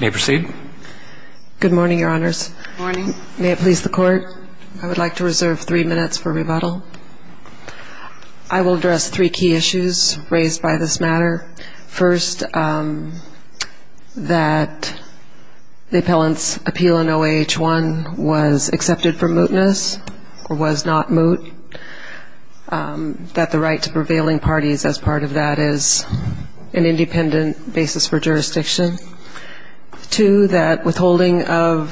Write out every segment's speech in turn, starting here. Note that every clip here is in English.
May I proceed? Good morning, Your Honors. Good morning. May it please the Court, I would like to reserve three minutes for rebuttal. I will address three key issues raised by this matter. First, that the appellant's appeal in OAH-1 was accepted for mootness or was not moot, that the right to prevailing parties as part of that is an independent basis for jurisdiction. Two, that withholding of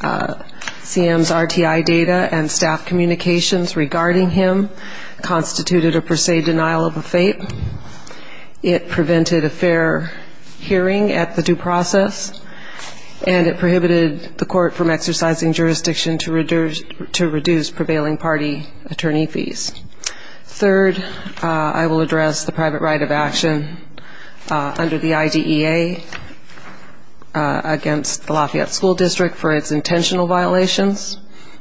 CM's RTI data and staff communications regarding him constituted a per se denial of a fate. It prevented a fair hearing at the due process, and it prohibited the Court from exercising jurisdiction to reduce prevailing party attorney fees. Third, I will address the private right of action under the IDEA against the Lafayette School District for its intentional violations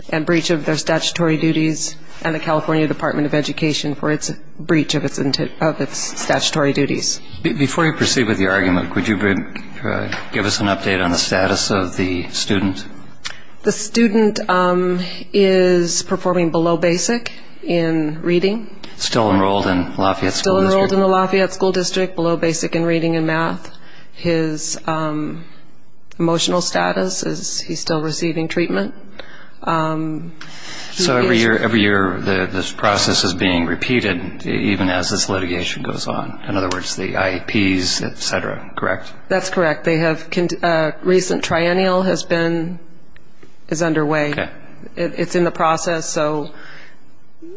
and breach of their statutory duties and the California Department of Education for its breach of its statutory duties. Before you proceed with your argument, could you give us an update on the status of the student? The student is performing below basic in reading. Still enrolled in Lafayette School District? Still enrolled in the Lafayette School District, below basic in reading and math. His emotional status is he's still receiving treatment. So every year this process is being repeated even as this litigation goes on. In other words, the IEPs, et cetera, correct? That's correct. A recent triennial is underway. It's in the process, so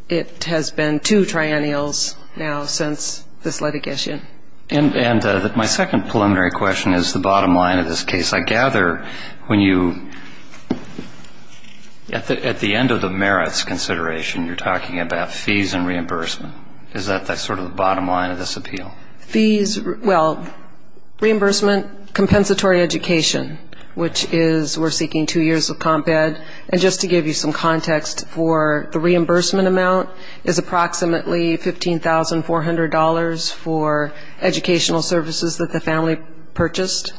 it has been two triennials now since this litigation. And my second preliminary question is the bottom line of this case. I gather when you, at the end of the merits consideration, you're talking about fees and reimbursement. Is that sort of the bottom line of this appeal? Fees, well, reimbursement, compensatory education, which is we're seeking two years of comp ed. And just to give you some context for the reimbursement amount is approximately $15,400 for educational services that the family purchased.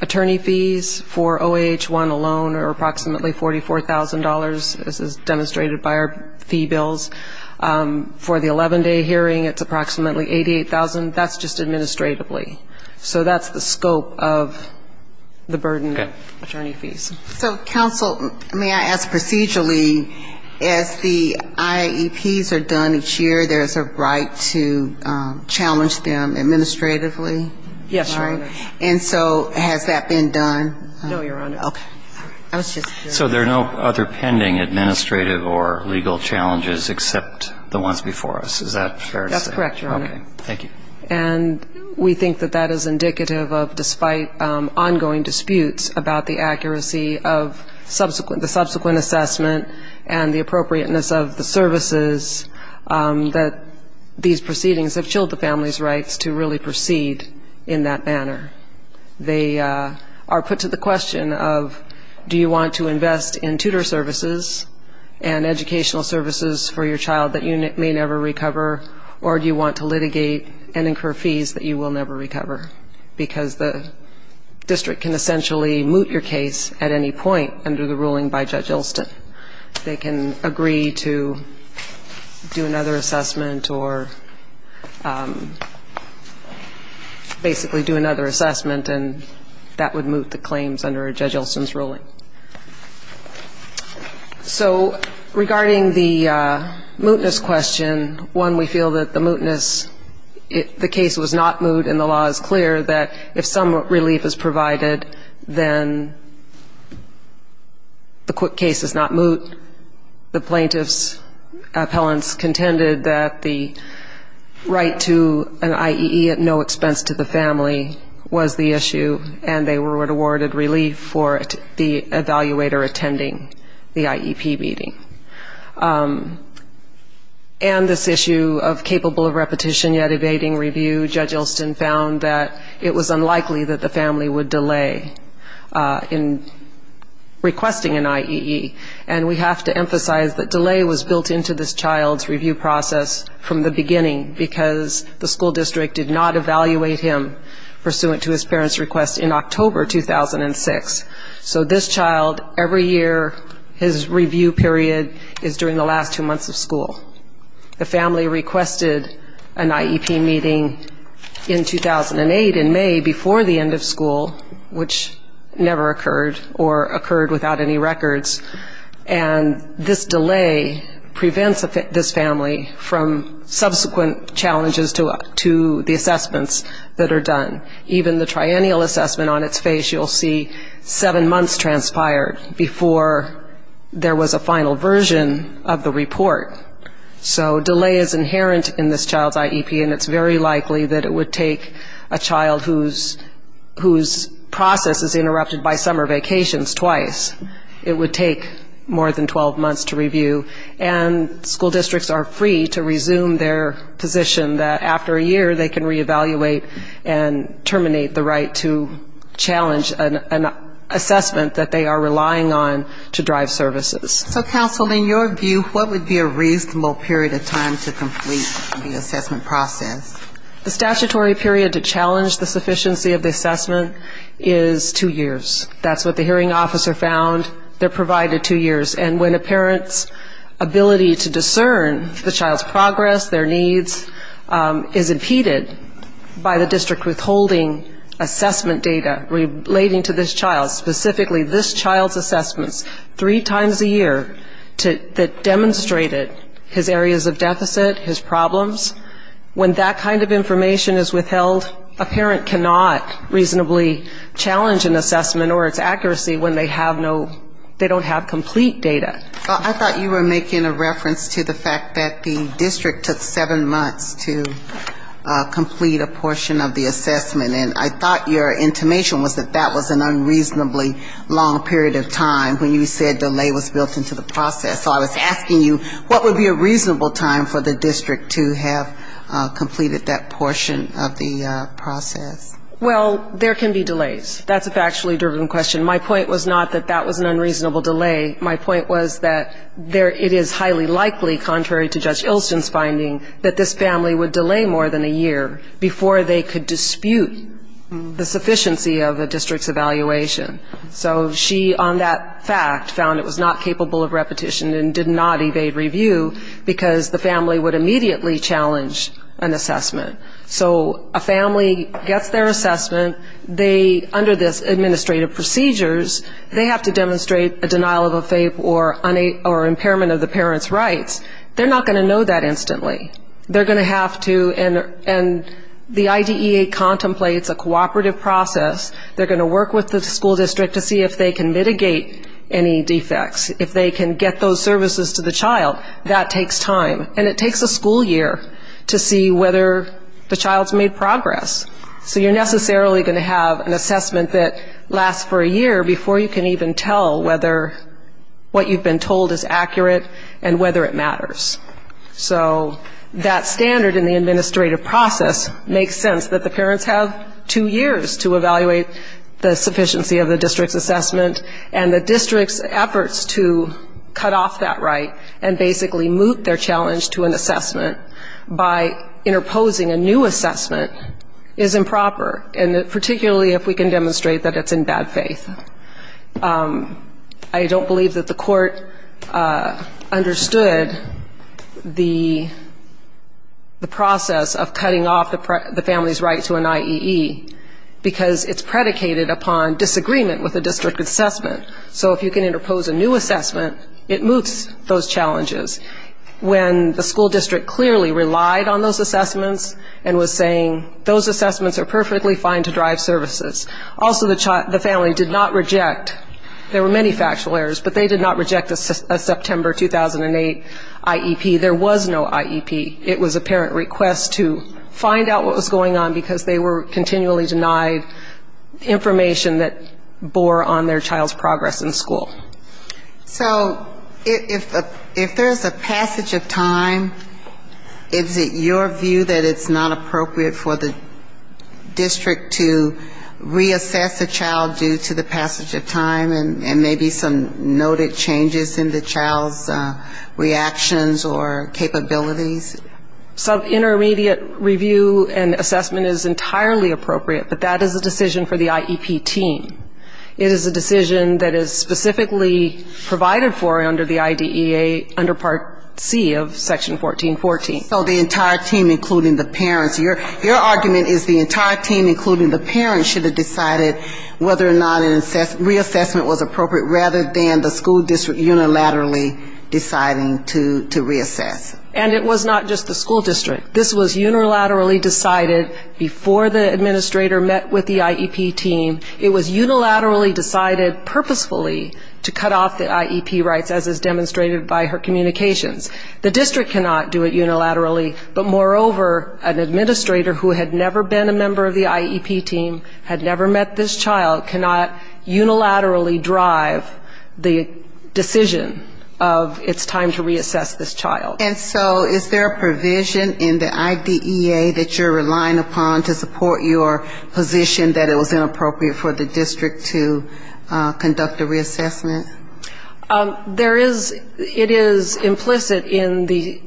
Attorney fees for OAH-1 alone are approximately $44,000, as is demonstrated by our fee bills. For the 11-day hearing, it's approximately $88,000. That's just administratively. So that's the scope of the burden of attorney fees. So counsel, may I ask procedurally, as the IEPs are done each year, there's a right to challenge them administratively? Yes, Your Honor. And so has that been done? No, Your Honor. Okay. I was just curious. So there are no other pending administrative or legal challenges except the ones before us. Is that fair to say? That's correct, Your Honor. Okay. Thank you. And we think that that is indicative of, despite ongoing disputes about the accuracy of the subsequent assessment and the appropriateness of the services, that these proceedings have chilled the family's rights to really proceed in that manner. They are put to the question of, do you want to invest in tutor services and educational services for your child that you may never recover, or do you want to litigate and incur fees that you will never recover? Because the district can essentially moot your case at any point under the ruling by Judge Ilston. They can agree to do another assessment or basically do another assessment, and that would moot the claims under Judge Ilston's ruling. So regarding the mootness question, one, we feel that the mootness, the case was not moot and the law is clear that if some relief is provided, then the case is not moot. The plaintiff's appellants contended that the right to an IEE at no expense to the family was the issue, and they were awarded relief for the evaluator attending the IEP meeting. And this issue of capable of repetition yet evading review, Judge Ilston found that it was unlikely that the family would delay in requesting an IEE, and we have to emphasize that delay was built into this child's review process from the beginning because the school district did not evaluate him pursuant to his parents' request in October 2006. So this child, every year his review period is during the last two months of school. The family requested an IEP meeting in 2008 in May before the end of school, which never occurred or occurred without any records, and this delay prevents this family from subsequent challenges to the assessments that are done. Even the triennial assessment on its face, you'll see seven months transpired before there was a final version of the report. So delay is inherent in this child's IEP, and it's very likely that it would take a child whose process is interrupted by summer vacations twice. It would take more than 12 months to review, and school districts are free to resume their position that after a year they can reevaluate and terminate the right to challenge an assessment that they are relying on to drive services. So, counsel, in your view, what would be a reasonable period of time to complete the assessment process? The statutory period to challenge the sufficiency of the assessment is two years. That's what the hearing officer found. They're provided two years, and when a parent's ability to discern the child's progress, their needs, is impeded by the district withholding assessment data relating to this child, specifically this child's assessments, three times a year, that demonstrated his areas of deficit, his problems, when that kind of information is withheld, a parent cannot reasonably challenge an assessment or its accuracy when they have no, they don't have complete data. I thought you were making a reference to the fact that the district took seven months to complete a portion of the assessment. And I thought your intimation was that that was an unreasonably long period of time when you said delay was built into the process. So I was asking you, what would be a reasonable time for the district to have completed that portion of the process? Well, there can be delays. That's a factually driven question. My point was not that that was an unreasonable delay. My point was that it is highly likely, contrary to Judge Ilsen's finding, that this family would delay more than a year before they could dispute the sufficiency of a district's evaluation. So she, on that fact, found it was not capable of repetition and did not evade review, because the family would immediately challenge an assessment. So a family gets their assessment. They, under this administrative procedures, they have to demonstrate a denial of a FAPE or impairment of the parent's rights. They're not going to know that instantly. They're going to have to, and the IDEA contemplates a cooperative process. They're going to work with the school district to see if they can mitigate any defects, if they can get those services to the child. That takes time, and it takes a school year to see whether the child's made progress. So you're necessarily going to have an assessment that lasts for a year before you can even tell whether what you've been told is accurate and whether it matters. So that standard in the administrative process makes sense that the parents have two years to evaluate the sufficiency of the district's assessment, and the district's efforts to cut off that right and basically moot their challenge to an assessment by interposing a new assessment is improper, and particularly if we can demonstrate that it's in bad faith. I don't believe that the court understood the process of cutting off the family's right to an IEE, because it's predicated upon disagreement with the district assessment. So if you can interpose a new assessment, it moots those challenges. When the school district clearly relied on those assessments and was saying, those assessments are perfectly fine to drive services. Also the family did not reject, there were many factual errors, but they did not reject a September 2008 IEP. There was no IEP. It was a parent request to find out what was going on, because they were continually denied information that bore on their child's progress in school. So if there's a passage of time, is it your view that it's not appropriate for the district to reassess a child due to the passage of time, and maybe some noted changes in the child's reactions or capabilities? Some intermediate review and assessment is entirely appropriate, but that is a decision for the IEP team. It is a decision that is specifically provided for under the IDEA under Part C of Section 1414. So the entire team, including the parents, your argument is the entire team, including the parents, should have decided whether or not a reassessment was appropriate, rather than the school district unilaterally deciding to reassess. And it was not just the school district. This was unilaterally decided before the administrator met with the IEP team. It was unilaterally decided purposefully to cut off the IEP rights, as is demonstrated by her communications. The district cannot do it unilaterally, but moreover, an administrator who had never been a member of the IEP team, had never met this child, cannot unilaterally drive the decision of it's time to reassess this child. And so is there a provision in the IDEA that you're relying upon to support your position that it was inappropriate for the district to conduct a reassessment? There is. It is implicit in the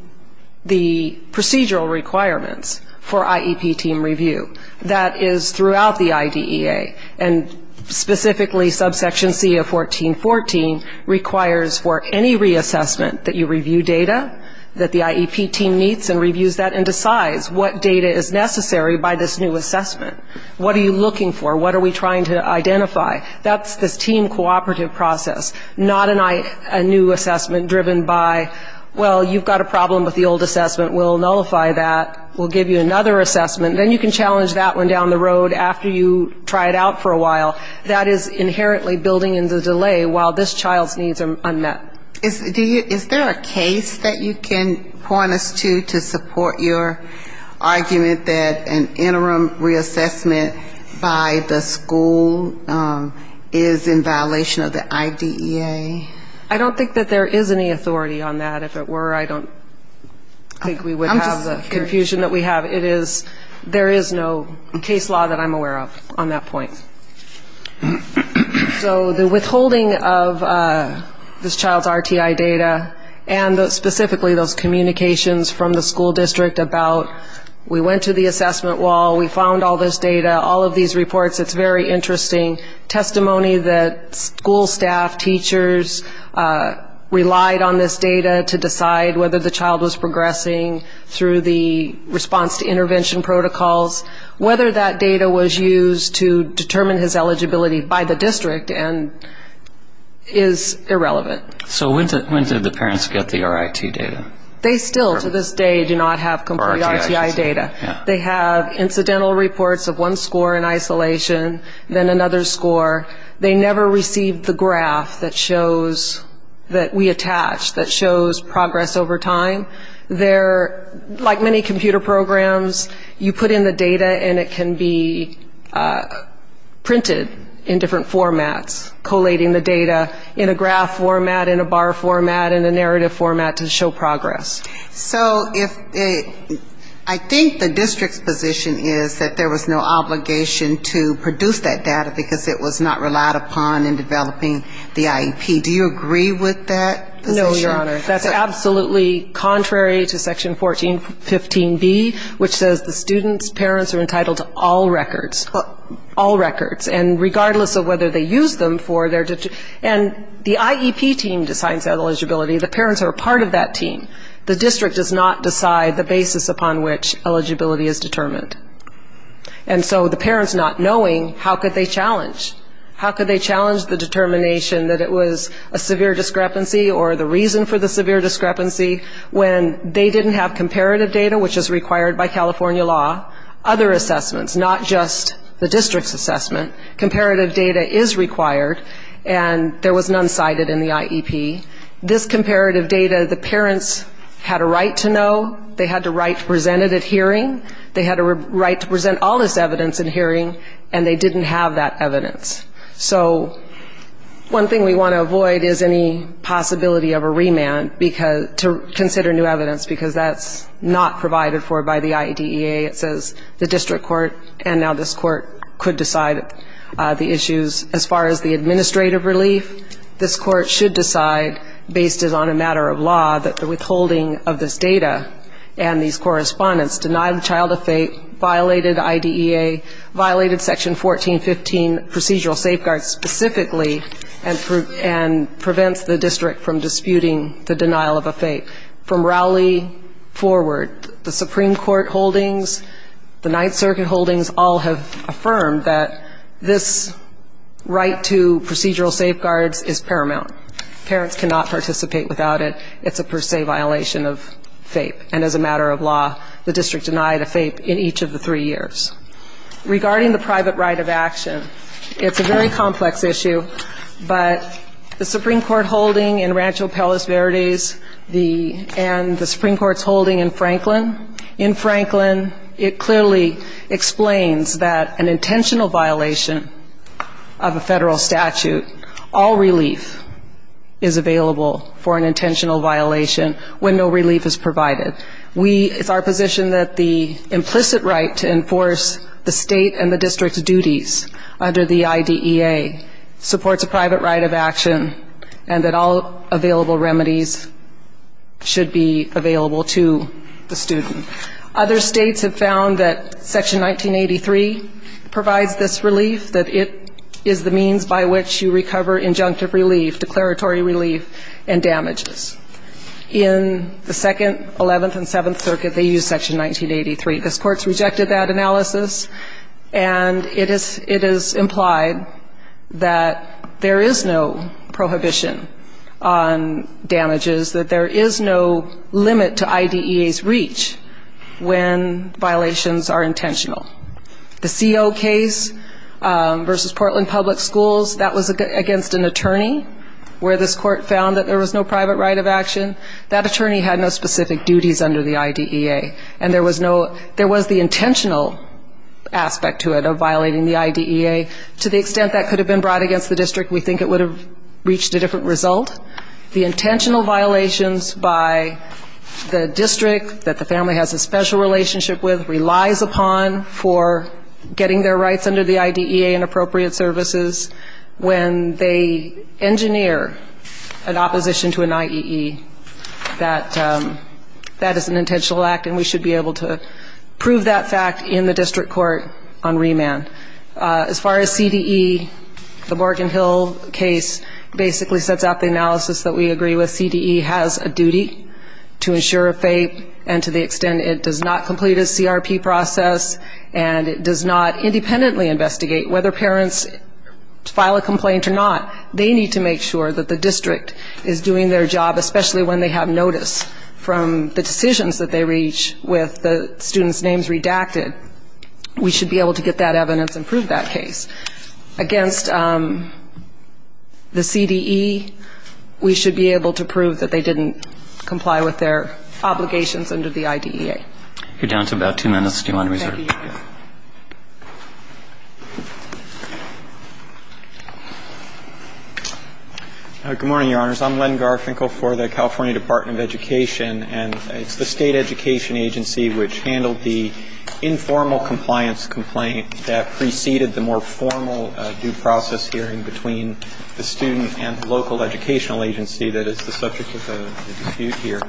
procedural requirements for IEP team review. That is throughout the IDEA. And specifically subsection C of 1414 requires for any reassessment that you review data that the IEP team meets and reviews that and decides what data is necessary by this new assessment. What are you looking for? What do you need to identify? That's the team cooperative process, not a new assessment driven by, well, you've got a problem with the old assessment, we'll nullify that, we'll give you another assessment, then you can challenge that one down the road after you try it out for a while. That is inherently building in the delay while this child's needs are met. Is there a case that you can point us to to support your argument that an interim reassessment by the school district is in violation of the IDEA? I don't think that there is any authority on that, if it were. I don't think we would have the confusion that we have. There is no case law that I'm aware of on that point. So the withholding of this child's RTI data and specifically those communications from the school district about we went to the school district to get the RTI data, which is a very interesting testimony that school staff, teachers relied on this data to decide whether the child was progressing through the response to intervention protocols, whether that data was used to determine his eligibility by the district and is irrelevant. So when did the parents get the RIT data? They still to this day do not have complete RTI data. They have incidental reports of one score in isolation, then another score. They never received the graph that shows, that we attach, that shows progress over time. They're, like many computer programs, you put in the data and it can be printed in different formats, collating the data in a graph format, in a bar format, in a narrative format to show progress. So if it, I think the district's position is that there was no obligation to produce that data, because that data was not relied upon in developing the IEP. Do you agree with that position? No, Your Honor. That's absolutely contrary to section 1415B, which says the student's parents are entitled to all records. All records. And regardless of whether they use them for their, and the IEP team decides that eligibility. The parents are a part of that team. The district does not decide the basis upon which eligibility is determined. And so the parents not knowing, how could they challenge? How could they challenge the determination that it was a severe discrepancy, or the reason for the severe discrepancy, when they didn't have comparative data, which is required by California law. Other assessments, not just the district's assessment. Comparative data is required, and there was none cited in the IEP. This comparative data, the parents had a right to know, they had a right to present it at hearing, they had a right to present all this evidence at hearing, and they didn't have that evidence. So one thing we want to avoid is any possibility of a remand to consider new evidence, because that's not provided for by the IEDEA. It says the district court, and now this court could decide the issues. As far as the administrative relief, this court should decide, based on a matter of law, that the withholding of this data and these correspondence denied the child a FAPE, violated IEDEA, violated Section 1415 procedural safeguards specifically, and prevents the district from disputing the denial of a FAPE. From Rowley forward, the Supreme Court holdings, the Ninth Circuit holdings all have affirmed that this right to procedural safeguards is paramount. Parents cannot participate without it. It's a per se violation of FAPE. And as a matter of fact, it's a violation of FAPE for the three years. Regarding the private right of action, it's a very complex issue, but the Supreme Court holding in Rancho Palos Verdes and the Supreme Court's holding in Franklin, in Franklin it clearly explains that an intentional violation of a federal statute, all relief is available for an intentional violation when no relief is provided. It's our position that the implicit right to enforce the state and the district's duties under the IEDEA supports a private right of action, and that all available remedies should be available to the student. Other states have found that Section 1983 provides this relief, that it is the means by which you recover injunctive relief, declaratory relief, and damages. In the Second, Eleventh, and Seventh Circuit, they use Section 1983. This Court's rejected that analysis, and it is implied that there is no prohibition on damages, that there is no limit to IEDEA's reach when violations are intentional. The CO case versus Portland Public Schools, that was against an attorney, where this Court found that there was no private right of action. That attorney had no specific duties under the IEDEA. And there was no, there was the intentional aspect to it, of violating the IEDEA. To the extent that could have been brought against the district, we think it would have reached a different result. The intentional violations by the district, that the family has a special relationship with, relies upon for getting their rights under the IEDEA and appropriate services. When they engineer an intentional act, and we should be able to prove that fact in the district court on remand. As far as CDE, the Morgan Hill case basically sets out the analysis that we agree with. CDE has a duty to ensure a FAPE, and to the extent it does not complete a CRP process, and it does not independently investigate whether parents file a complaint or not, they need to make sure that the district is doing their job, especially when they have notice from the decisions that they reach with the students' names redacted, we should be able to get that evidence and prove that case. Against the CDE, we should be able to prove that they didn't comply with their obligations under the IEDEA. You're down to about two minutes. Do you want to reserve? Good morning, Your Honors. I'm Len Garfinkel for the California Department of Education, and it's the State Education Agency which handled the informal compliance complaint that preceded the more formal due process hearing between the student and the local educational agency that is the subject of the dispute here.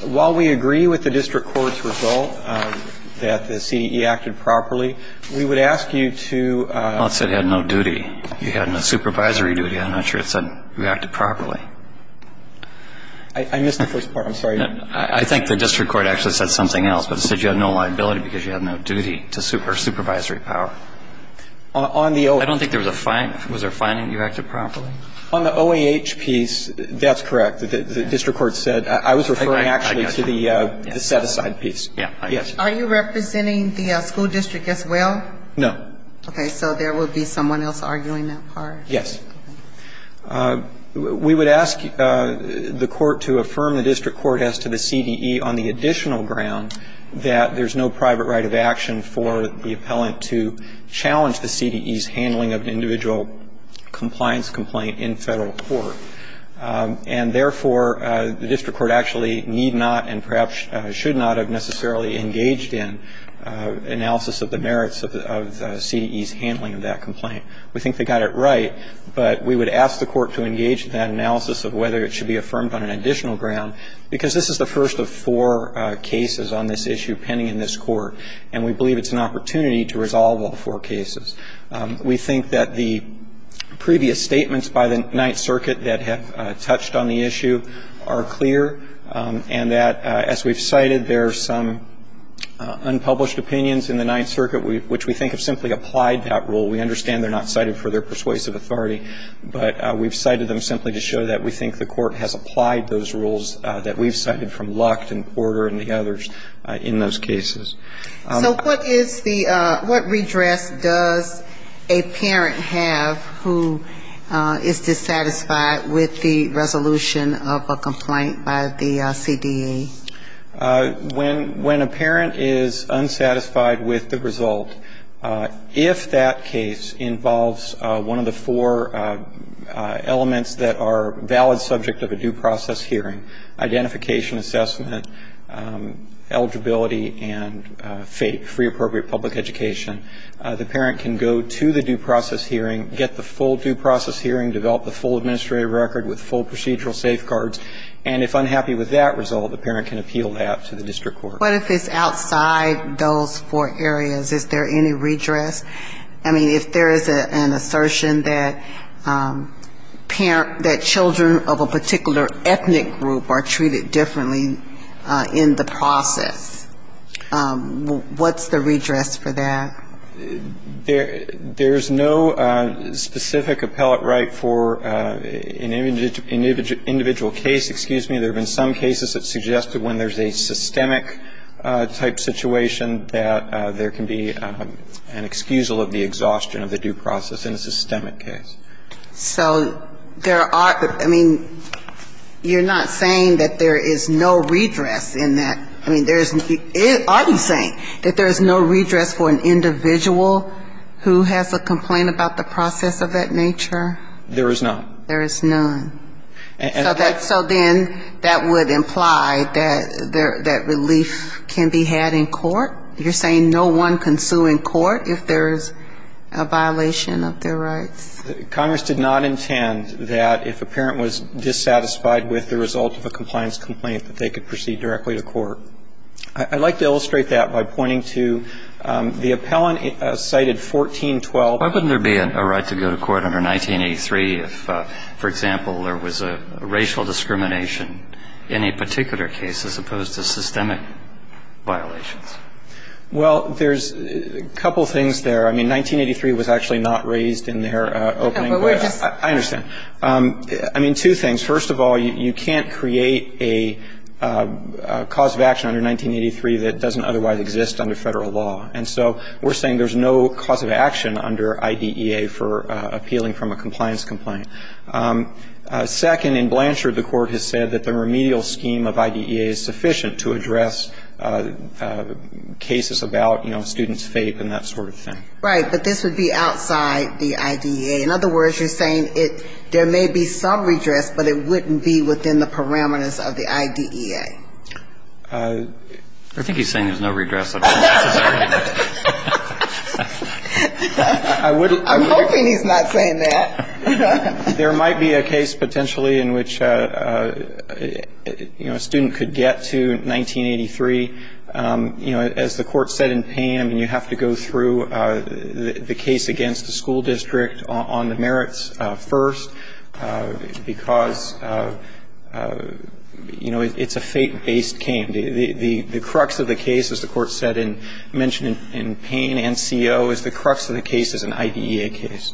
While we agree with the district court's result that the CDE acted properly, we would ask you to ---- Well, it said it had no duty. You had no supervisory duty. I'm not sure it said you acted properly. I missed the first part. I'm sorry. I think the district court actually said something else, but it said you had no liability because you had no duty to supervisory power. I don't think there was a fine. Was there a fine if you acted properly? On the OAH piece, that's correct. The district court said ---- I was referring actually to the set-aside piece. Are you representing the school district as well? No. Okay. So there would be someone else arguing that part. Yes. We would ask the court to affirm the district court as to the CDE on the additional ground that there's no private right of action for the appellant to challenge the CDE's handling of an individual compliance complaint in Federal court. And therefore, the district court actually need not and perhaps should not have necessarily engaged in analysis of the merits of CDE's handling of that complaint. We think they got it right, but we would ask the court to engage in that analysis of whether it should be affirmed on an additional ground, because this is the first of four cases on this issue pending in this court, and we believe it's an opportunity to resolve all four cases. We think that the previous statements by the Ninth Circuit that have touched on the issue are clear, and that as we've cited, there are some unpublished opinions in the Ninth Circuit which we think have simply applied that rule. We understand they're not cited for their persuasive authority, but we've cited them simply to show that we think the court has applied those rules that we've cited from Lucht and Porter and the others in those cases. So what is the what redress does a parent have who is dissatisfied with the resolution of a complaint by the CDE? When a parent is unsatisfied with the result, if that case involves one of the four elements that are valid subject of a due process hearing, identification, assessment, eligibility, and free appropriate public education, the parent can go to the due process hearing, get the full due process hearing, develop the full administrative record with full procedural safeguards, and if unhappy with that result, the parent can appeal that to the district court. What if it's outside those four areas? Is there any redress? I mean, if there is an assertion that parent, that children of a particular ethnic group are treated differently in the process, what's the redress for that? There's no specific appellate right for an individual case, excuse me, there have been some cases where the parent has been treated differently, and there have been cases that suggested when there's a systemic type situation that there can be an excusal of the exhaustion of the due process in a systemic case. So there are, I mean, you're not saying that there is no redress in that, I mean, there's, are you saying that there's no redress for an individual who has a complaint about the process of that nature? There is none. There is none. So then that would imply that relief can be had in court? You're saying no one can sue in court if there's a violation of their rights? Congress did not intend that if a parent was dissatisfied with the result of a compliance complaint that they could proceed directly to court. I'd like to illustrate that by pointing to the appellant cited 1412. Why wouldn't there be a right to go to court under 1983 if, for example, there was a racial discrimination in a particular case as opposed to systemic violations? Well, there's a couple things there. I mean, 1983 was actually not raised in their opening. I understand. I mean, two things. First of all, you can't create a cause of action under 1983 that doesn't otherwise exist under IDEA for appealing from a compliance complaint. Second, in Blanchard, the Court has said that the remedial scheme of IDEA is sufficient to address cases about, you know, student's fate and that sort of thing. Right. But this would be outside the IDEA. In other words, you're saying there may be some redress, but it wouldn't be within the parameters of the IDEA. I think he's saying there's no redress of that. I'm hoping he's not saying that. There might be a case potentially in which, you know, a student could get to 1983. You know, as the Court said in Pam, you have to go through the case against the school district on the merits first, because, you know, it's a fate-based case. The crux of the case, as the Court said and mentioned in Pam and CO, is the crux of the case is an IDEA case.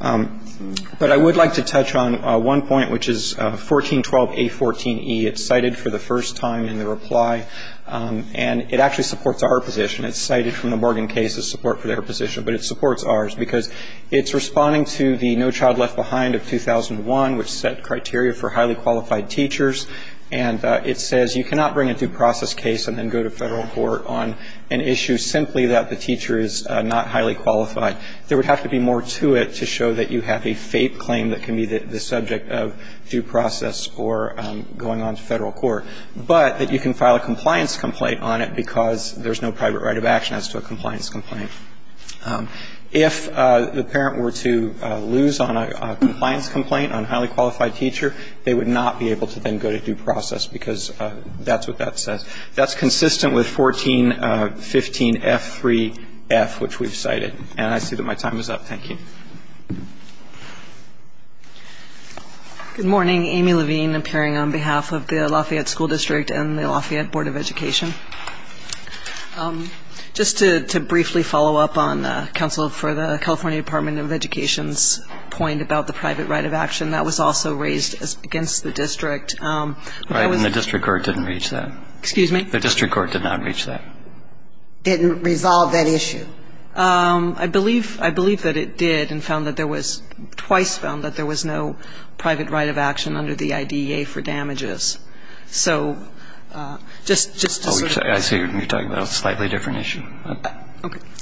But I would like to touch on one point, which is 1412A14E. It's cited for the first time in the reply, and it actually supports our position. It's cited from the Morgan case as support for their position, but it supports ours, because it's responding to the No Child Left Behind for highly qualified teachers, and it says you cannot bring a due process case and then go to federal court on an issue simply that the teacher is not highly qualified. There would have to be more to it to show that you have a fate claim that can be the subject of due process or going on to federal court, but that you can file a compliance complaint on it, because there's no private right of action as to a compliance complaint. If the parent were to lose on a compliance complaint on a highly qualified teacher, they would have to go to federal court. They would not be able to then go to due process, because that's what that says. That's consistent with 1415F3F, which we've cited. And I see that my time is up. Thank you. Amy Levine, appearing on behalf of the Lafayette School District and the Lafayette Board of Education. Just to briefly follow up on counsel for the California Department of Education's point about the private right of action, that was also raised against the district. The district court did not reach that. Didn't resolve that issue. I believe that it did, and twice found that there was no private right of action under the IDEA for damages. I see you're talking about a slightly different issue.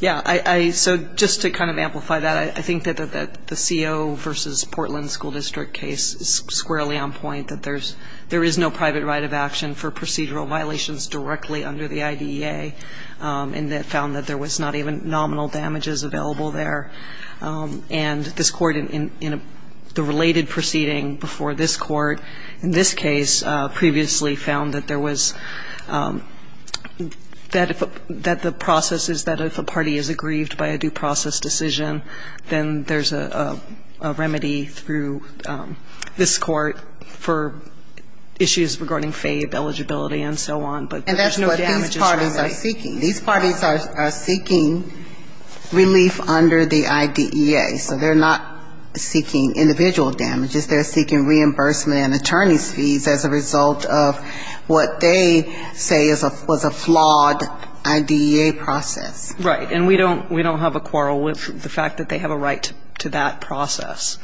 Yeah, so just to kind of amplify that, I think that the CO versus Portland School District case is squarely on point, that there is no private right of action for procedural violations directly under the IDEA, and that found that there was not even nominal damages available there. And this court, in the related proceeding before this court in this case, previously found that there was, that the process is that if a party is aggrieved by a due process decision, then there's a remedy through this court for issues regarding FABE eligibility and so on. And that's what these parties are seeking. These parties are seeking relief under the IDEA, so they're not seeking individual damages. They're seeking reimbursement and attorney's fees as a result of what they say was a flawed IDEA process. Right. And we don't have a quarrel with the fact that they have a right to that process.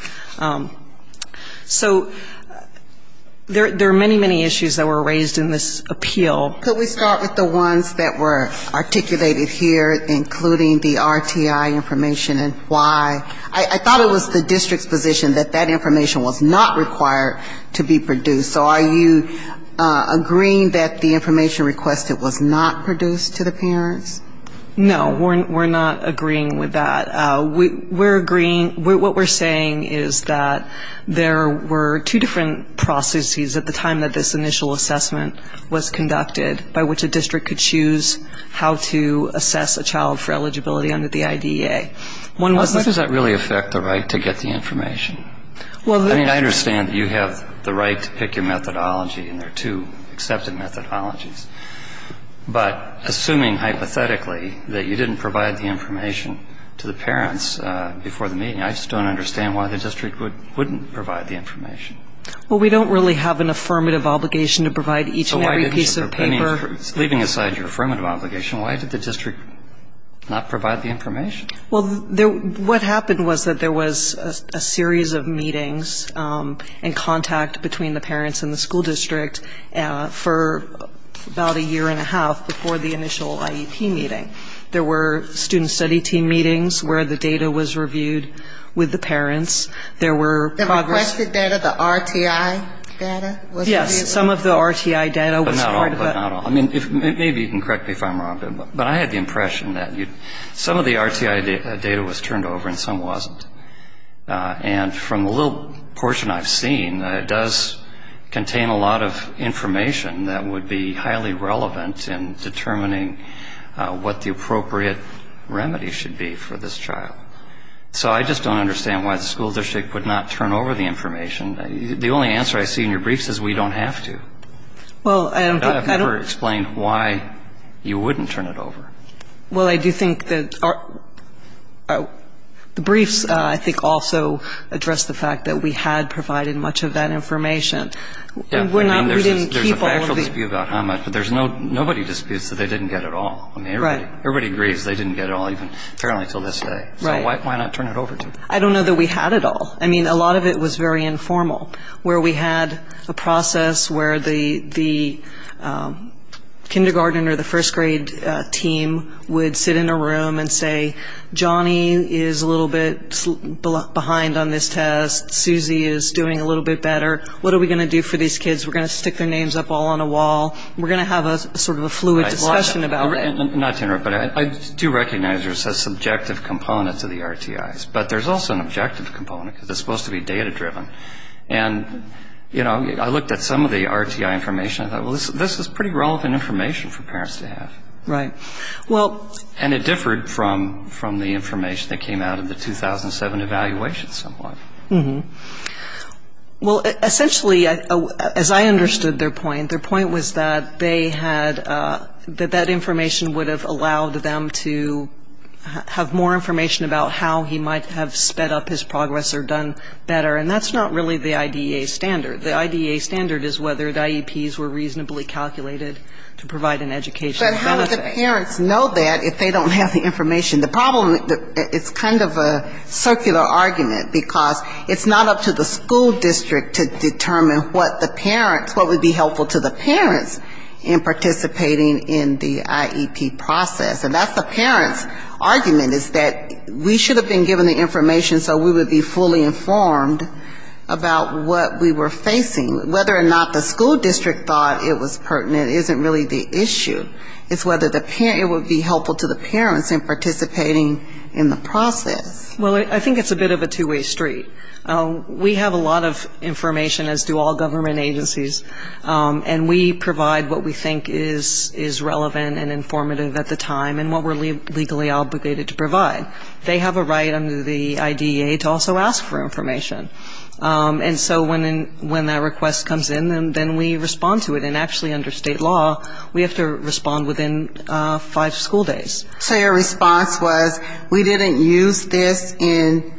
So there are many, many issues that were raised in this appeal. Could we start with the ones that were articulated here, including the RTI information and why? I thought it was the district's position that that information was not required to be produced. So are you agreeing that the information requested was not produced to the parents? No, we're not agreeing with that. We're agreeing, what we're saying is that there were two different processes at the time that this initial assessment was conducted by which a district could choose how to assess a child for eligibility under the IDEA. Why does that really affect the right to get the information? I mean, I understand that you have the right to pick your methodology, and there are two accepted methodologies. But assuming hypothetically that you didn't provide the information to the parents before the meeting, I just don't understand why the district wouldn't provide the information. Well, we don't really have an affirmative obligation to provide each and every piece of paper. Leaving aside your affirmative obligation, why did the district not provide the information? Well, what happened was that there was a series of meetings and contact between the parents and the school district for about a year and a half before the initial IEP meeting. There were student study team meetings where the data was reviewed with the parents. There were progress. Was the data the RTI data? Yes, some of the RTI data was part of it. But not all, but not all. I mean, maybe you can correct me if I'm wrong, but I had the impression that some of the RTI data was turned over and some wasn't. And from the little portion I've seen, it does contain a lot of information that would be highly relevant in determining what the appropriate I don't know that we had all of that information. The only answer I see in your briefs is we don't have to. Well, I don't think that I've ever explained why you wouldn't turn it over. Well, I do think that the briefs, I think, also address the fact that we had provided much of that information. There's a factual dispute about how much, but nobody disputes that they didn't get it all. Everybody agrees they didn't get it all, even apparently until this day. So why not turn it over to them? I don't know that we had it all. I mean, a lot of it was very informal, where we had a process where the kindergarten or the first grade team would sit in a room and say, what are we going to do for these kids, we're going to stick their names up all on a wall, we're going to have sort of a fluid discussion about it. Not to interrupt, but I do recognize there's a subjective component to the RTIs, but there's also an objective component because it's supposed to be data-driven. And, you know, I looked at some of the RTI information and thought, well, this is pretty relevant information for parents to have. Right. And it differed from the information that came out of the 2007 evaluation somewhat. Well, essentially, as I understood their point, their point was that they had, that that information would have allowed them to have more information about how he might have sped up his progress or done better, and that's not really the IDEA standard. The IDEA standard is whether the IEPs were reasonably calculated to provide an educational benefit. But how would the parents know that if they don't have the information? The problem, it's kind of a circular argument, because it's not up to the school district to determine what the parents, what would be helpful to the parents in participating in the IEP process. And that's the parents' argument, is that we should have been given the information so we would be fully informed about what we were facing. Whether or not the school district thought it was pertinent isn't really the issue, it's whether it would be helpful to the parents in participating in the process. Well, I think it's a bit of a two-way street. We have a lot of information, as do all government agencies, and we provide what we think is relevant and informative at the time and what we're legally obligated to provide. They have a right under the IDEA to also ask for information. And so when that request comes in, then we respond to it. And actually under state law, we have to respond within five school days. So your response was we didn't use this in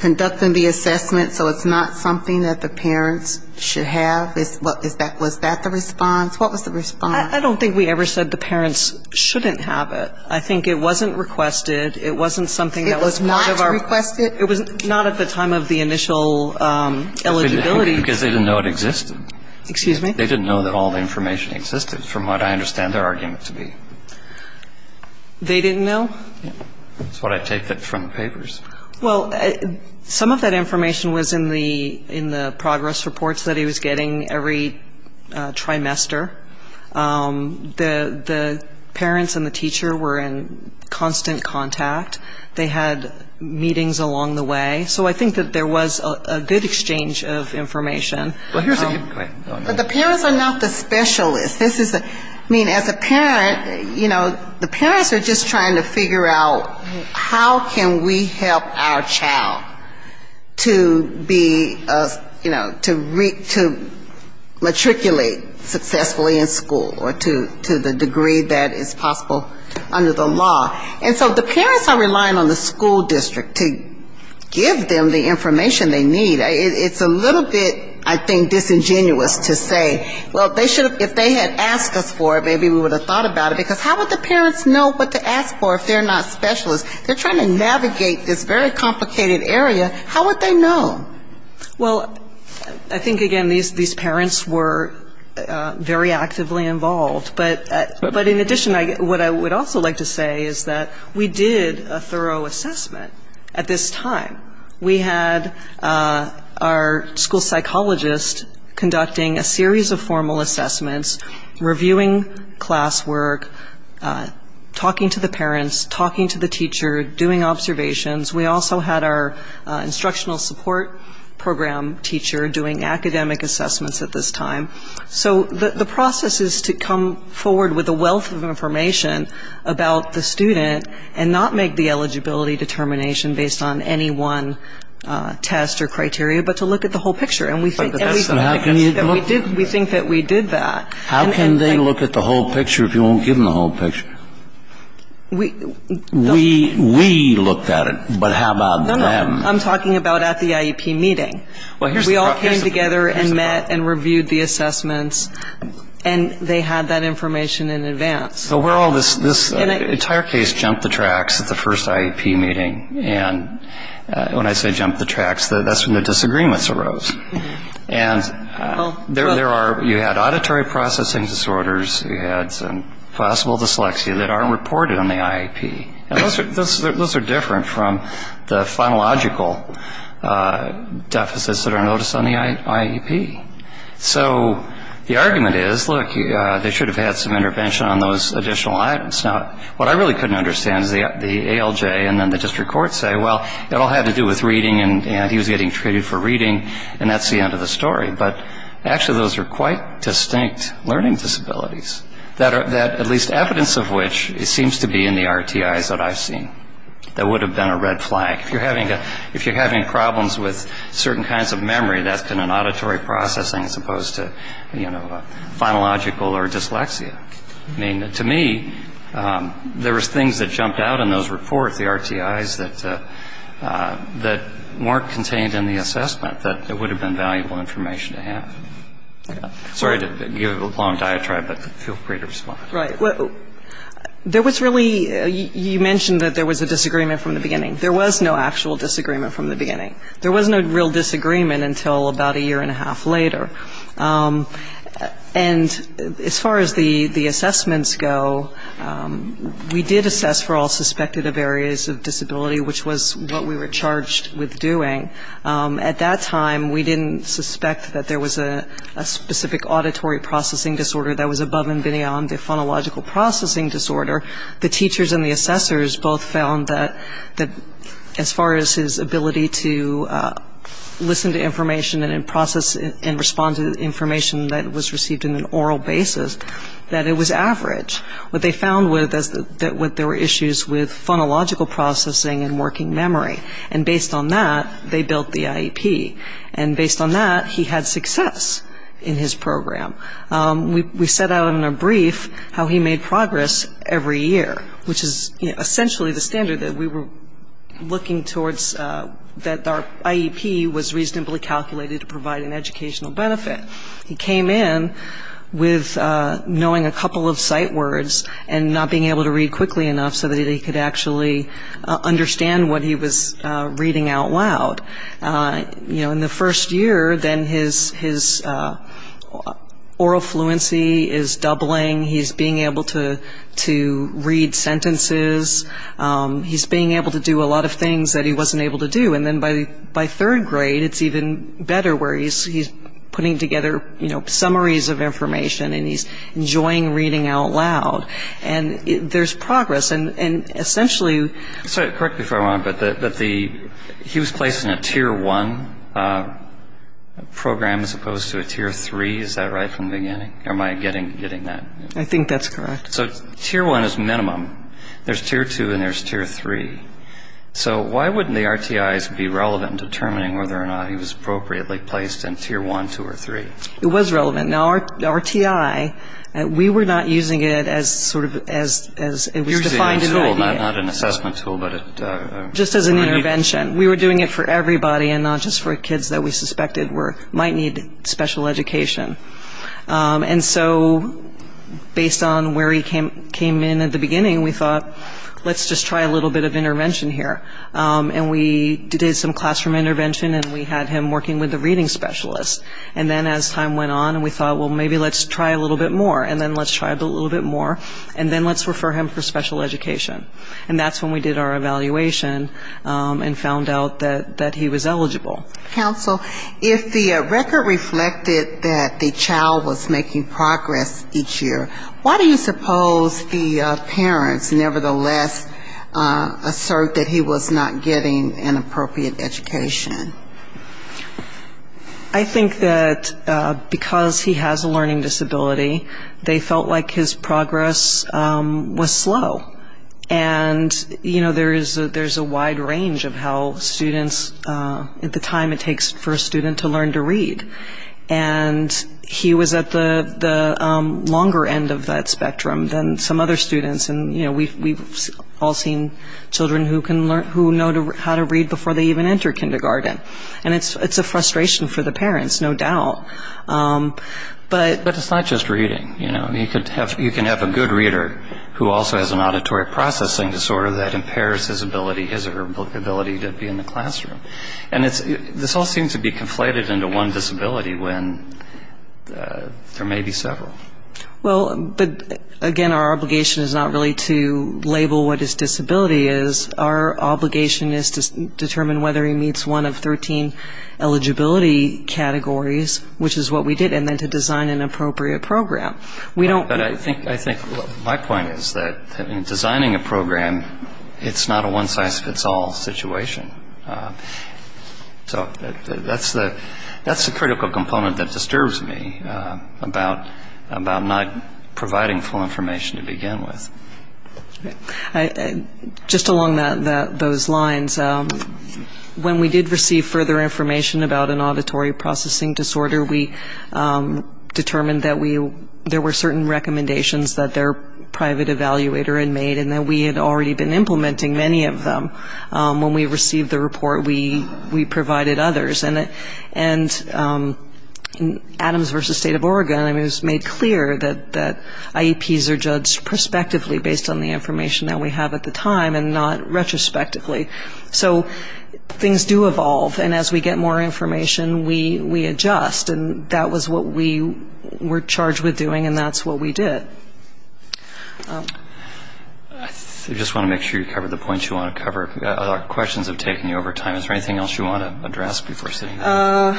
conducting the assessment, so it's not something that the parents should have? Was that the response? What was the response? I don't think we ever said the parents shouldn't have it. I think it wasn't requested. It wasn't something that was part of our ---- It was not requested? It was not at the time of the initial eligibility. Because they didn't know it existed. Excuse me? They didn't know that all the information existed, from what I understand their argument to be. They didn't know? That's what I take from the papers. Well, some of that information was in the progress reports that he was getting every trimester. The parents and the teacher were in constant contact. They had meetings along the way. So I think that there was a good exchange of information. But the parents are not the specialists. I mean, as a parent, you know, the parents are just trying to figure out how can we help our child to be, you know, to matriculate successfully in school or to the degree that is possible under the law. And so the parents are relying on the school district to give them the information they need. It's a little bit, I think, disingenuous to say, well, they should have ---- if they had asked us for it, maybe we would have thought about it. Because how would the parents know what to ask for if they're not specialists? They're trying to navigate this very complicated area. How would they know? Well, I think, again, these parents were very actively involved. But in addition, what I would also like to say is that we did a thorough assessment at this time. We had our school psychologist conducting a series of formal assessments, reviewing classwork, talking to the parents, talking to the teacher, doing observations. We also had our instructional support program teacher doing academic assessments at this time. So the process is to come forward with a wealth of information about the student and not make the eligibility determination based on any one test or criteria, but to look at the whole picture. And we think that we did that. How can they look at the whole picture if you won't give them the whole picture? We looked at it, but how about them? No, no. I'm talking about at the IEP meeting. We all came together and met and reviewed the assessments, and they had that information in advance. So this entire case jumped the tracks at the first IEP meeting. And when I say jumped the tracks, that's when the disagreements arose. And you had auditory processing disorders. You had some possible dyslexia that aren't reported on the IEP. And those are different from the phonological deficits that are noticed on the IEP. So the argument is, look, they should have had some intervention on those additional items. Now, what I really couldn't understand is the ALJ and then the district court say, well, it all had to do with reading, and he was getting treated for reading, and that's the end of the story. But actually those are quite distinct learning disabilities, at least evidence of which seems to be in the RTIs that I've seen. That would have been a red flag. If you're having problems with certain kinds of memory, that's been an auditory processing as opposed to, you know, phonological or dyslexia. I mean, to me, there was things that jumped out in those reports, the RTIs, that weren't contained in the assessment that would have been valuable information to have. Sorry to give a long diatribe, but feel free to respond. Right. There was really you mentioned that there was a disagreement from the beginning. There was no actual disagreement from the beginning. There was no real disagreement until about a year and a half later. And as far as the assessments go, we did assess for all suspected of areas of disability, which was what we were charged with doing. At that time, we didn't suspect that there was a specific auditory processing disorder that was above and beyond the phonological processing disorder. The teachers and the assessors both found that as far as his ability to listen to information and process and respond to information that was received in an oral basis, that it was average. What they found was that there were issues with phonological processing and working memory. And based on that, they built the IEP. And based on that, he had success in his program. We set out in a brief how he made progress every year, which is essentially the standard that we were looking towards, that our IEP was reasonably calculated to provide an educational benefit. He came in with knowing a couple of sight words and not being able to read quickly enough so that he could actually understand what he was reading out loud. You know, in the first year, then his oral fluency is doubling. He's being able to read sentences. He's being able to do a lot of things that he wasn't able to do. And then by third grade, it's even better where he's putting together, you know, summaries of information and he's enjoying reading out loud. And there's progress. And essentially he was placed in a Tier 1 program as opposed to a Tier 3. Is that right from the beginning? Am I getting that? I think that's correct. So Tier 1 is minimum. There's Tier 2 and there's Tier 3. So why wouldn't the RTIs be relevant in determining whether or not he was appropriately placed in Tier 1, 2, or 3? It was relevant. Now, RTI, we were not using it as sort of as it was defined in the IDEA. Not an assessment tool, but a... Just as an intervention. We were doing it for everybody and not just for kids that we suspected might need special education. And so based on where he came in at the beginning, we thought let's just try a little bit of intervention here. And we did some classroom intervention and we had him working with a reading specialist. And then as time went on, we thought, well, maybe let's try a little bit more and then let's try a little bit more and then let's refer him for special education. And that's when we did our evaluation and found out that he was eligible. Counsel, if the record reflected that the child was making progress each year, why do you suppose the parents nevertheless assert that he was not getting an appropriate education? I think that because he has a learning disability, they felt like his progress was slow. And, you know, there's a wide range of how students at the time it takes for a student to learn to read. And he was at the longer end of that spectrum than some other students. And, you know, we've all seen children who know how to read before they even enter kindergarten. And it's a frustration for the parents, no doubt. But it's not just reading, you know. There's a child who also has an auditory processing disorder that impairs his ability to be in the classroom. And this all seems to be conflated into one disability when there may be several. Well, again, our obligation is not really to label what his disability is. Our obligation is to determine whether he meets one of 13 eligibility categories, which is what we did, and then to design an appropriate program. But I think my point is that in designing a program, it's not a one-size-fits-all situation. So that's the critical component that disturbs me about not providing full information to begin with. Just along those lines, when we did receive further information about an auditory processing disorder, we determined that there were certain recommendations that their private evaluator had made and that we had already been implementing many of them. When we received the report, we provided others. And Adams v. State of Oregon, I mean, it was made clear that IEPs are judged prospectively based on the information that we have at the time and not retrospectively. So things do evolve, and as we get more information, we adjust. And that was what we were charged with doing, and that's what we did. I just want to make sure you covered the points you want to cover. Our questions have taken you over time. Is there anything else you want to address before sitting down?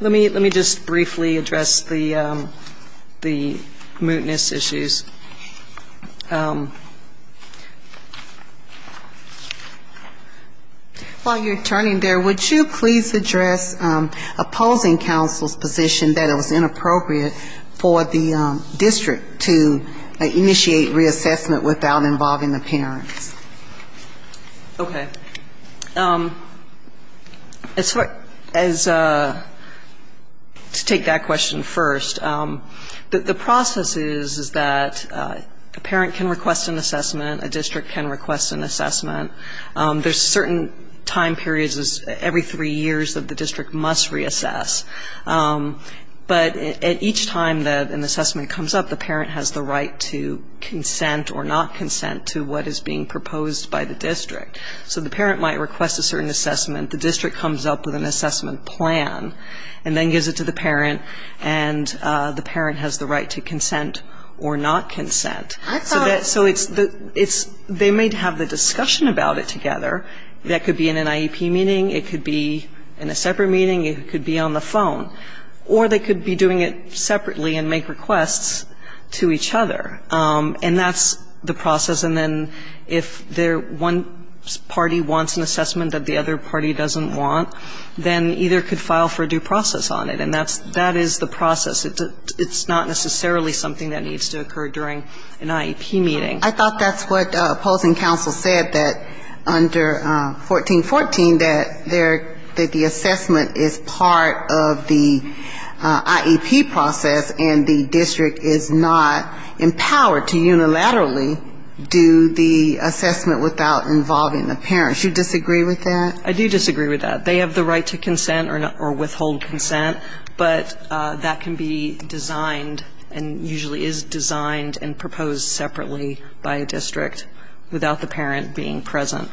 Let me just briefly address the mootness issues. While you're turning there, would you please address opposing counsel's position that it was inappropriate for the district to initiate reassessment without involving the parents? Okay. To take that question first, the process is that a parent can request an assessment, a district can request an assessment. There's certain time periods every three years that the district must reassess. But at each time that an assessment comes up, the parent has the right to consent or not consent to what is being proposed by the district. So the parent might request a certain assessment, the district comes up with an assessment plan, and then gives it to the parent, and the parent has the right to consent or not consent. So they may have the discussion about it together. That could be in an IEP meeting, it could be in a separate meeting, it could be on the phone. Or they could be doing it separately and make requests to each other. And that's the process. And then if one party wants an assessment that the other party doesn't want, then either could file for a due process on it, and that is the process. It's not necessarily something that needs to occur during an IEP meeting. I thought that's what opposing counsel said that under 1414, that the assessment is part of the IEP process and the district is not empowered to unilaterally do the assessment without involving the parents. Do you disagree with that? I do disagree with that. They have the right to consent or withhold consent, but that can be designed and usually is designed and proposed separately by a district without the parent being present.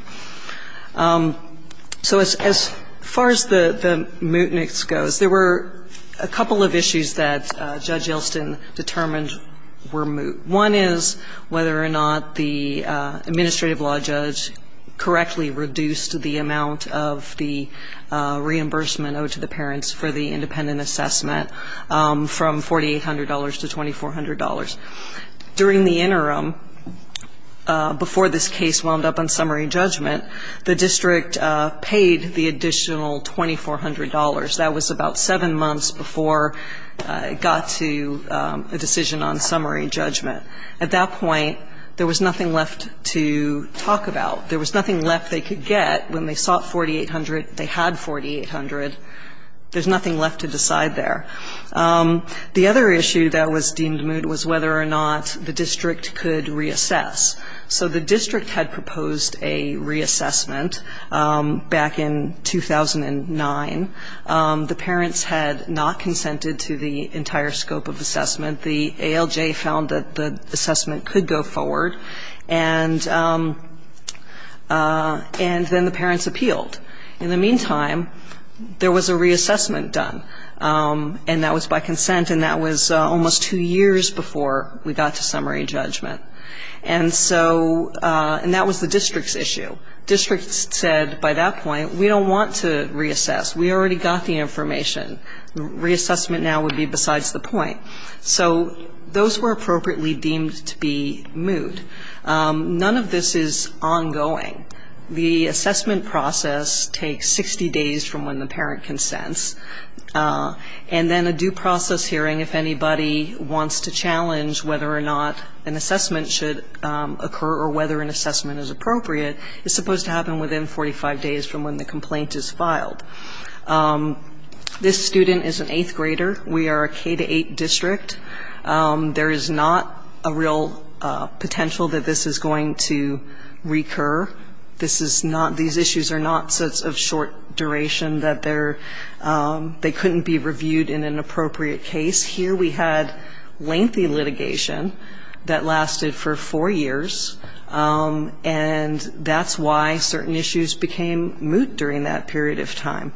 So as far as the mootness goes, there were a couple of issues that Judge Yelston determined were moot. One is whether or not the administrative law judge correctly reduced the amount of the reimbursement owed to the parents for the independent assessment from $4,800 to $2,400. During the interim, before this case wound up on summary judgment, the district paid the additional $2,400. That was about seven months before it got to a decision on summary judgment. At that point, there was nothing left to talk about. There was nothing left they could get when they sought 4,800, they had 4,800. There's nothing left to decide there. The other issue that was deemed moot was whether or not the district could reassess. So the district had proposed a reassessment back in 2009. The parents had not consented to the entire scope of assessment. The ALJ found that the assessment could go forward, and then the parents appealed. In the meantime, there was a reassessment done, and that was by consent, and that was almost two years before we got to summary judgment. And that was the district's issue. District said by that point, we don't want to reassess, we already got the information. Reassessment now would be besides the point. So those were appropriately deemed to be moot. None of this is ongoing. The assessment process takes 60 days from when the parent consents. And then a due process hearing, if anybody wants to challenge whether or not an assessment should occur or whether an assessment is appropriate, is supposed to happen within 45 days from when the complaint is filed. This student is an eighth grader. We are a K-8 district. There is not a real potential that this is going to recur. This is not, these issues are not sets of short duration that they're, they couldn't be reviewed in an appropriate case. Here we had lengthy litigation that lasted for four years, and that's why certain issues became moot during that period of time.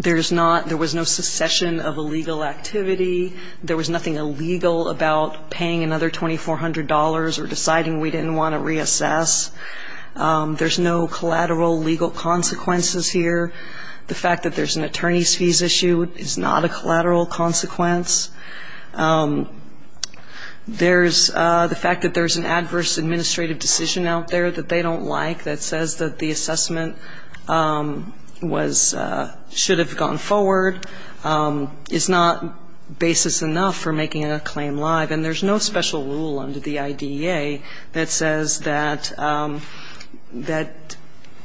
There's not, there was no succession of illegal activity. There was nothing illegal about paying another $2,400 or deciding we didn't want to reassess. There's no collateral legal consequences here. The fact that there's an attorney's fees issue is not a collateral consequence. There's, the fact that there's an adverse administrative decision out there that they don't like that says that the assessment was, should have gone forward, is not basis enough for making a claim live. And there's no special rule under the IDEA that says that, that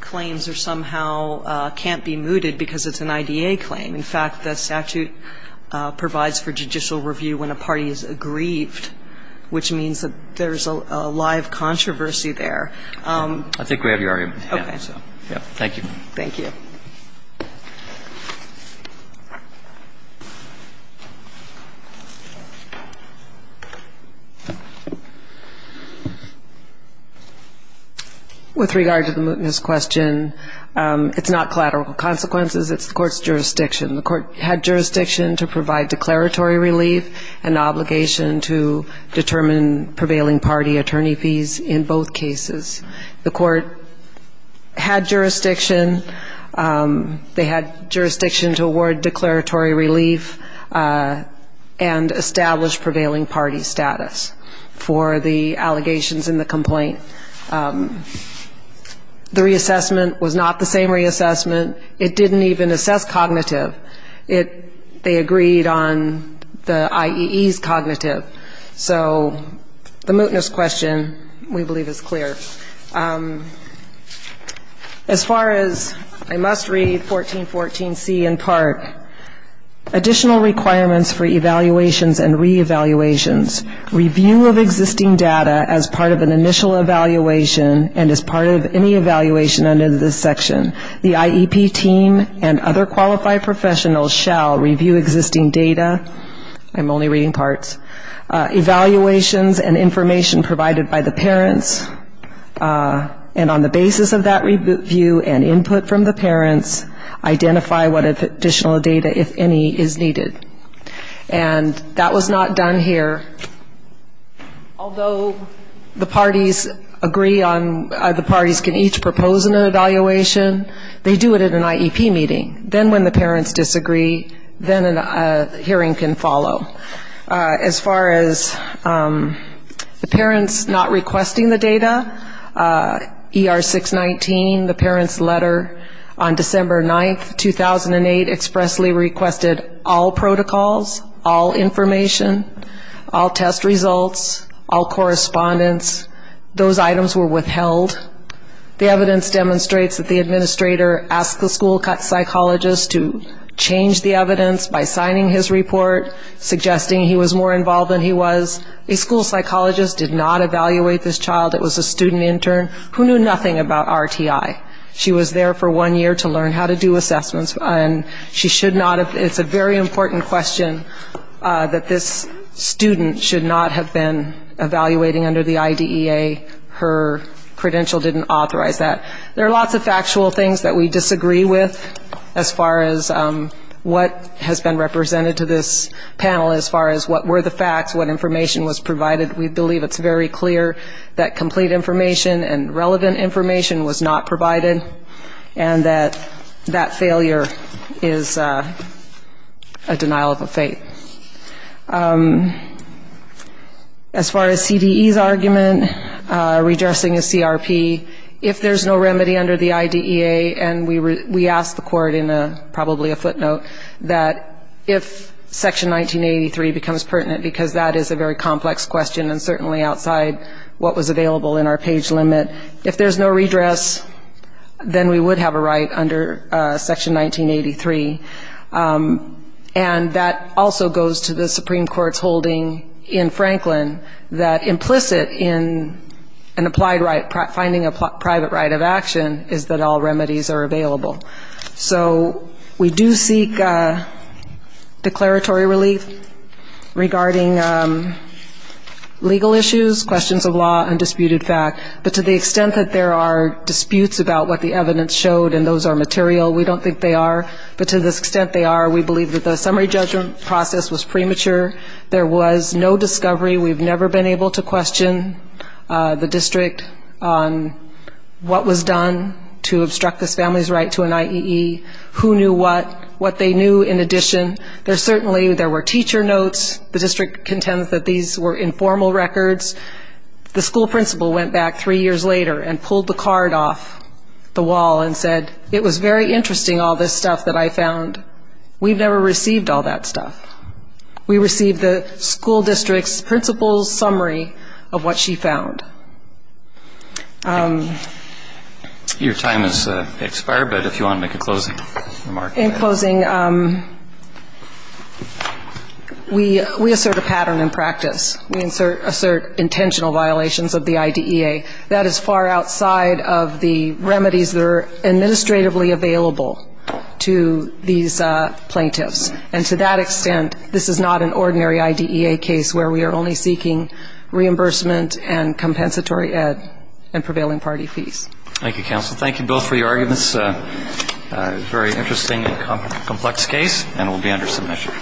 claims are somehow, can't be mooted because it's an IDEA claim. In fact, the statute provides for judicial review when a party is aggrieved, which means that there's a live controversy there. I think we have your argument. Okay. Thank you. Thank you. With regard to the mootness question, it's not collateral consequences, it's the court's jurisdiction. The court had jurisdiction to provide declaratory relief and obligation to determine prevailing party attorney fees in both cases. The court had jurisdiction, they had jurisdiction to award declaratory relief and establish prevailing party status for the allegations in the complaint. The reassessment was not the same reassessment, it didn't even assess cognitive. It, they agreed on the IEE's cognitive. So the mootness question we believe is clear. As far as, I must read 1414C in part, additional requirements for evaluations and re-evaluations, review of existing data as part of an initial evaluation and as part of any evaluation under this section. The IEP team and other qualified professionals shall review existing data, I'm only reading parts, evaluations and information provided by the parents, and on the basis of that review and input from the parents, identify what additional data if any is needed. And that was not done here. Although the parties agree on, the parties can each propose an evaluation, they do it at an IEP meeting. Then when the parents disagree, then a hearing can follow. As far as the parents not requesting the data, ER619, the parents' letter on December 9th, 2008, expressly requested all protocols, all information, all test results, all correspondence, those items were withheld. The evidence demonstrates that the administrator asked the school psychologist to change the evidence by signing his report, suggesting he was more involved than he was. The school psychologist did not evaluate this child, it was a student intern who knew nothing about RTI. She was there for one year to learn how to do assessments, and it's a very important question that this student should not have been evaluating under the IDEA. Her credential didn't authorize that. There are lots of factual things that we disagree with as far as what has been represented to this panel, as far as what were the facts, what information was provided. We believe it's very clear that complete information and relevant information was not provided and that that failure is a denial of a faith. As far as CDE's argument, redressing a CRP, if there's no remedy under the IDEA, and we asked the court in probably a footnote that if Section 1983 becomes pertinent, because that is a very complex question and certainly outside what was available in our page limit, if there's no redress, then we would have a right under Section 1983. And that also goes to the Supreme Court's holding in Franklin that implicit in an applied right, finding a private right of action, is that all remedies are available. So we do seek declaratory relief regarding legal issues, questions of law, undisputed fact, but to the extent that there are disputes about what the evidence showed and those are material, we don't think they are, but to the extent they are, we believe that the summary judgment process was premature. There was no discovery. We've never been able to question the district on what was done to obstruct this family's right to an IEE, who knew what, what they knew in addition. There certainly were teacher notes. The district contends that these were informal records. The school principal went back three years later and pulled the card off the wall and said, it was very interesting, all this stuff that I found. We've never received all that stuff. We received the school district's principal's summary of what she found. Your time has expired, but if you want to make a closing remark. Thank you, counsel. Thank you both for your arguments. A very interesting and complex case, and it will be under submission. All rise. Thank you.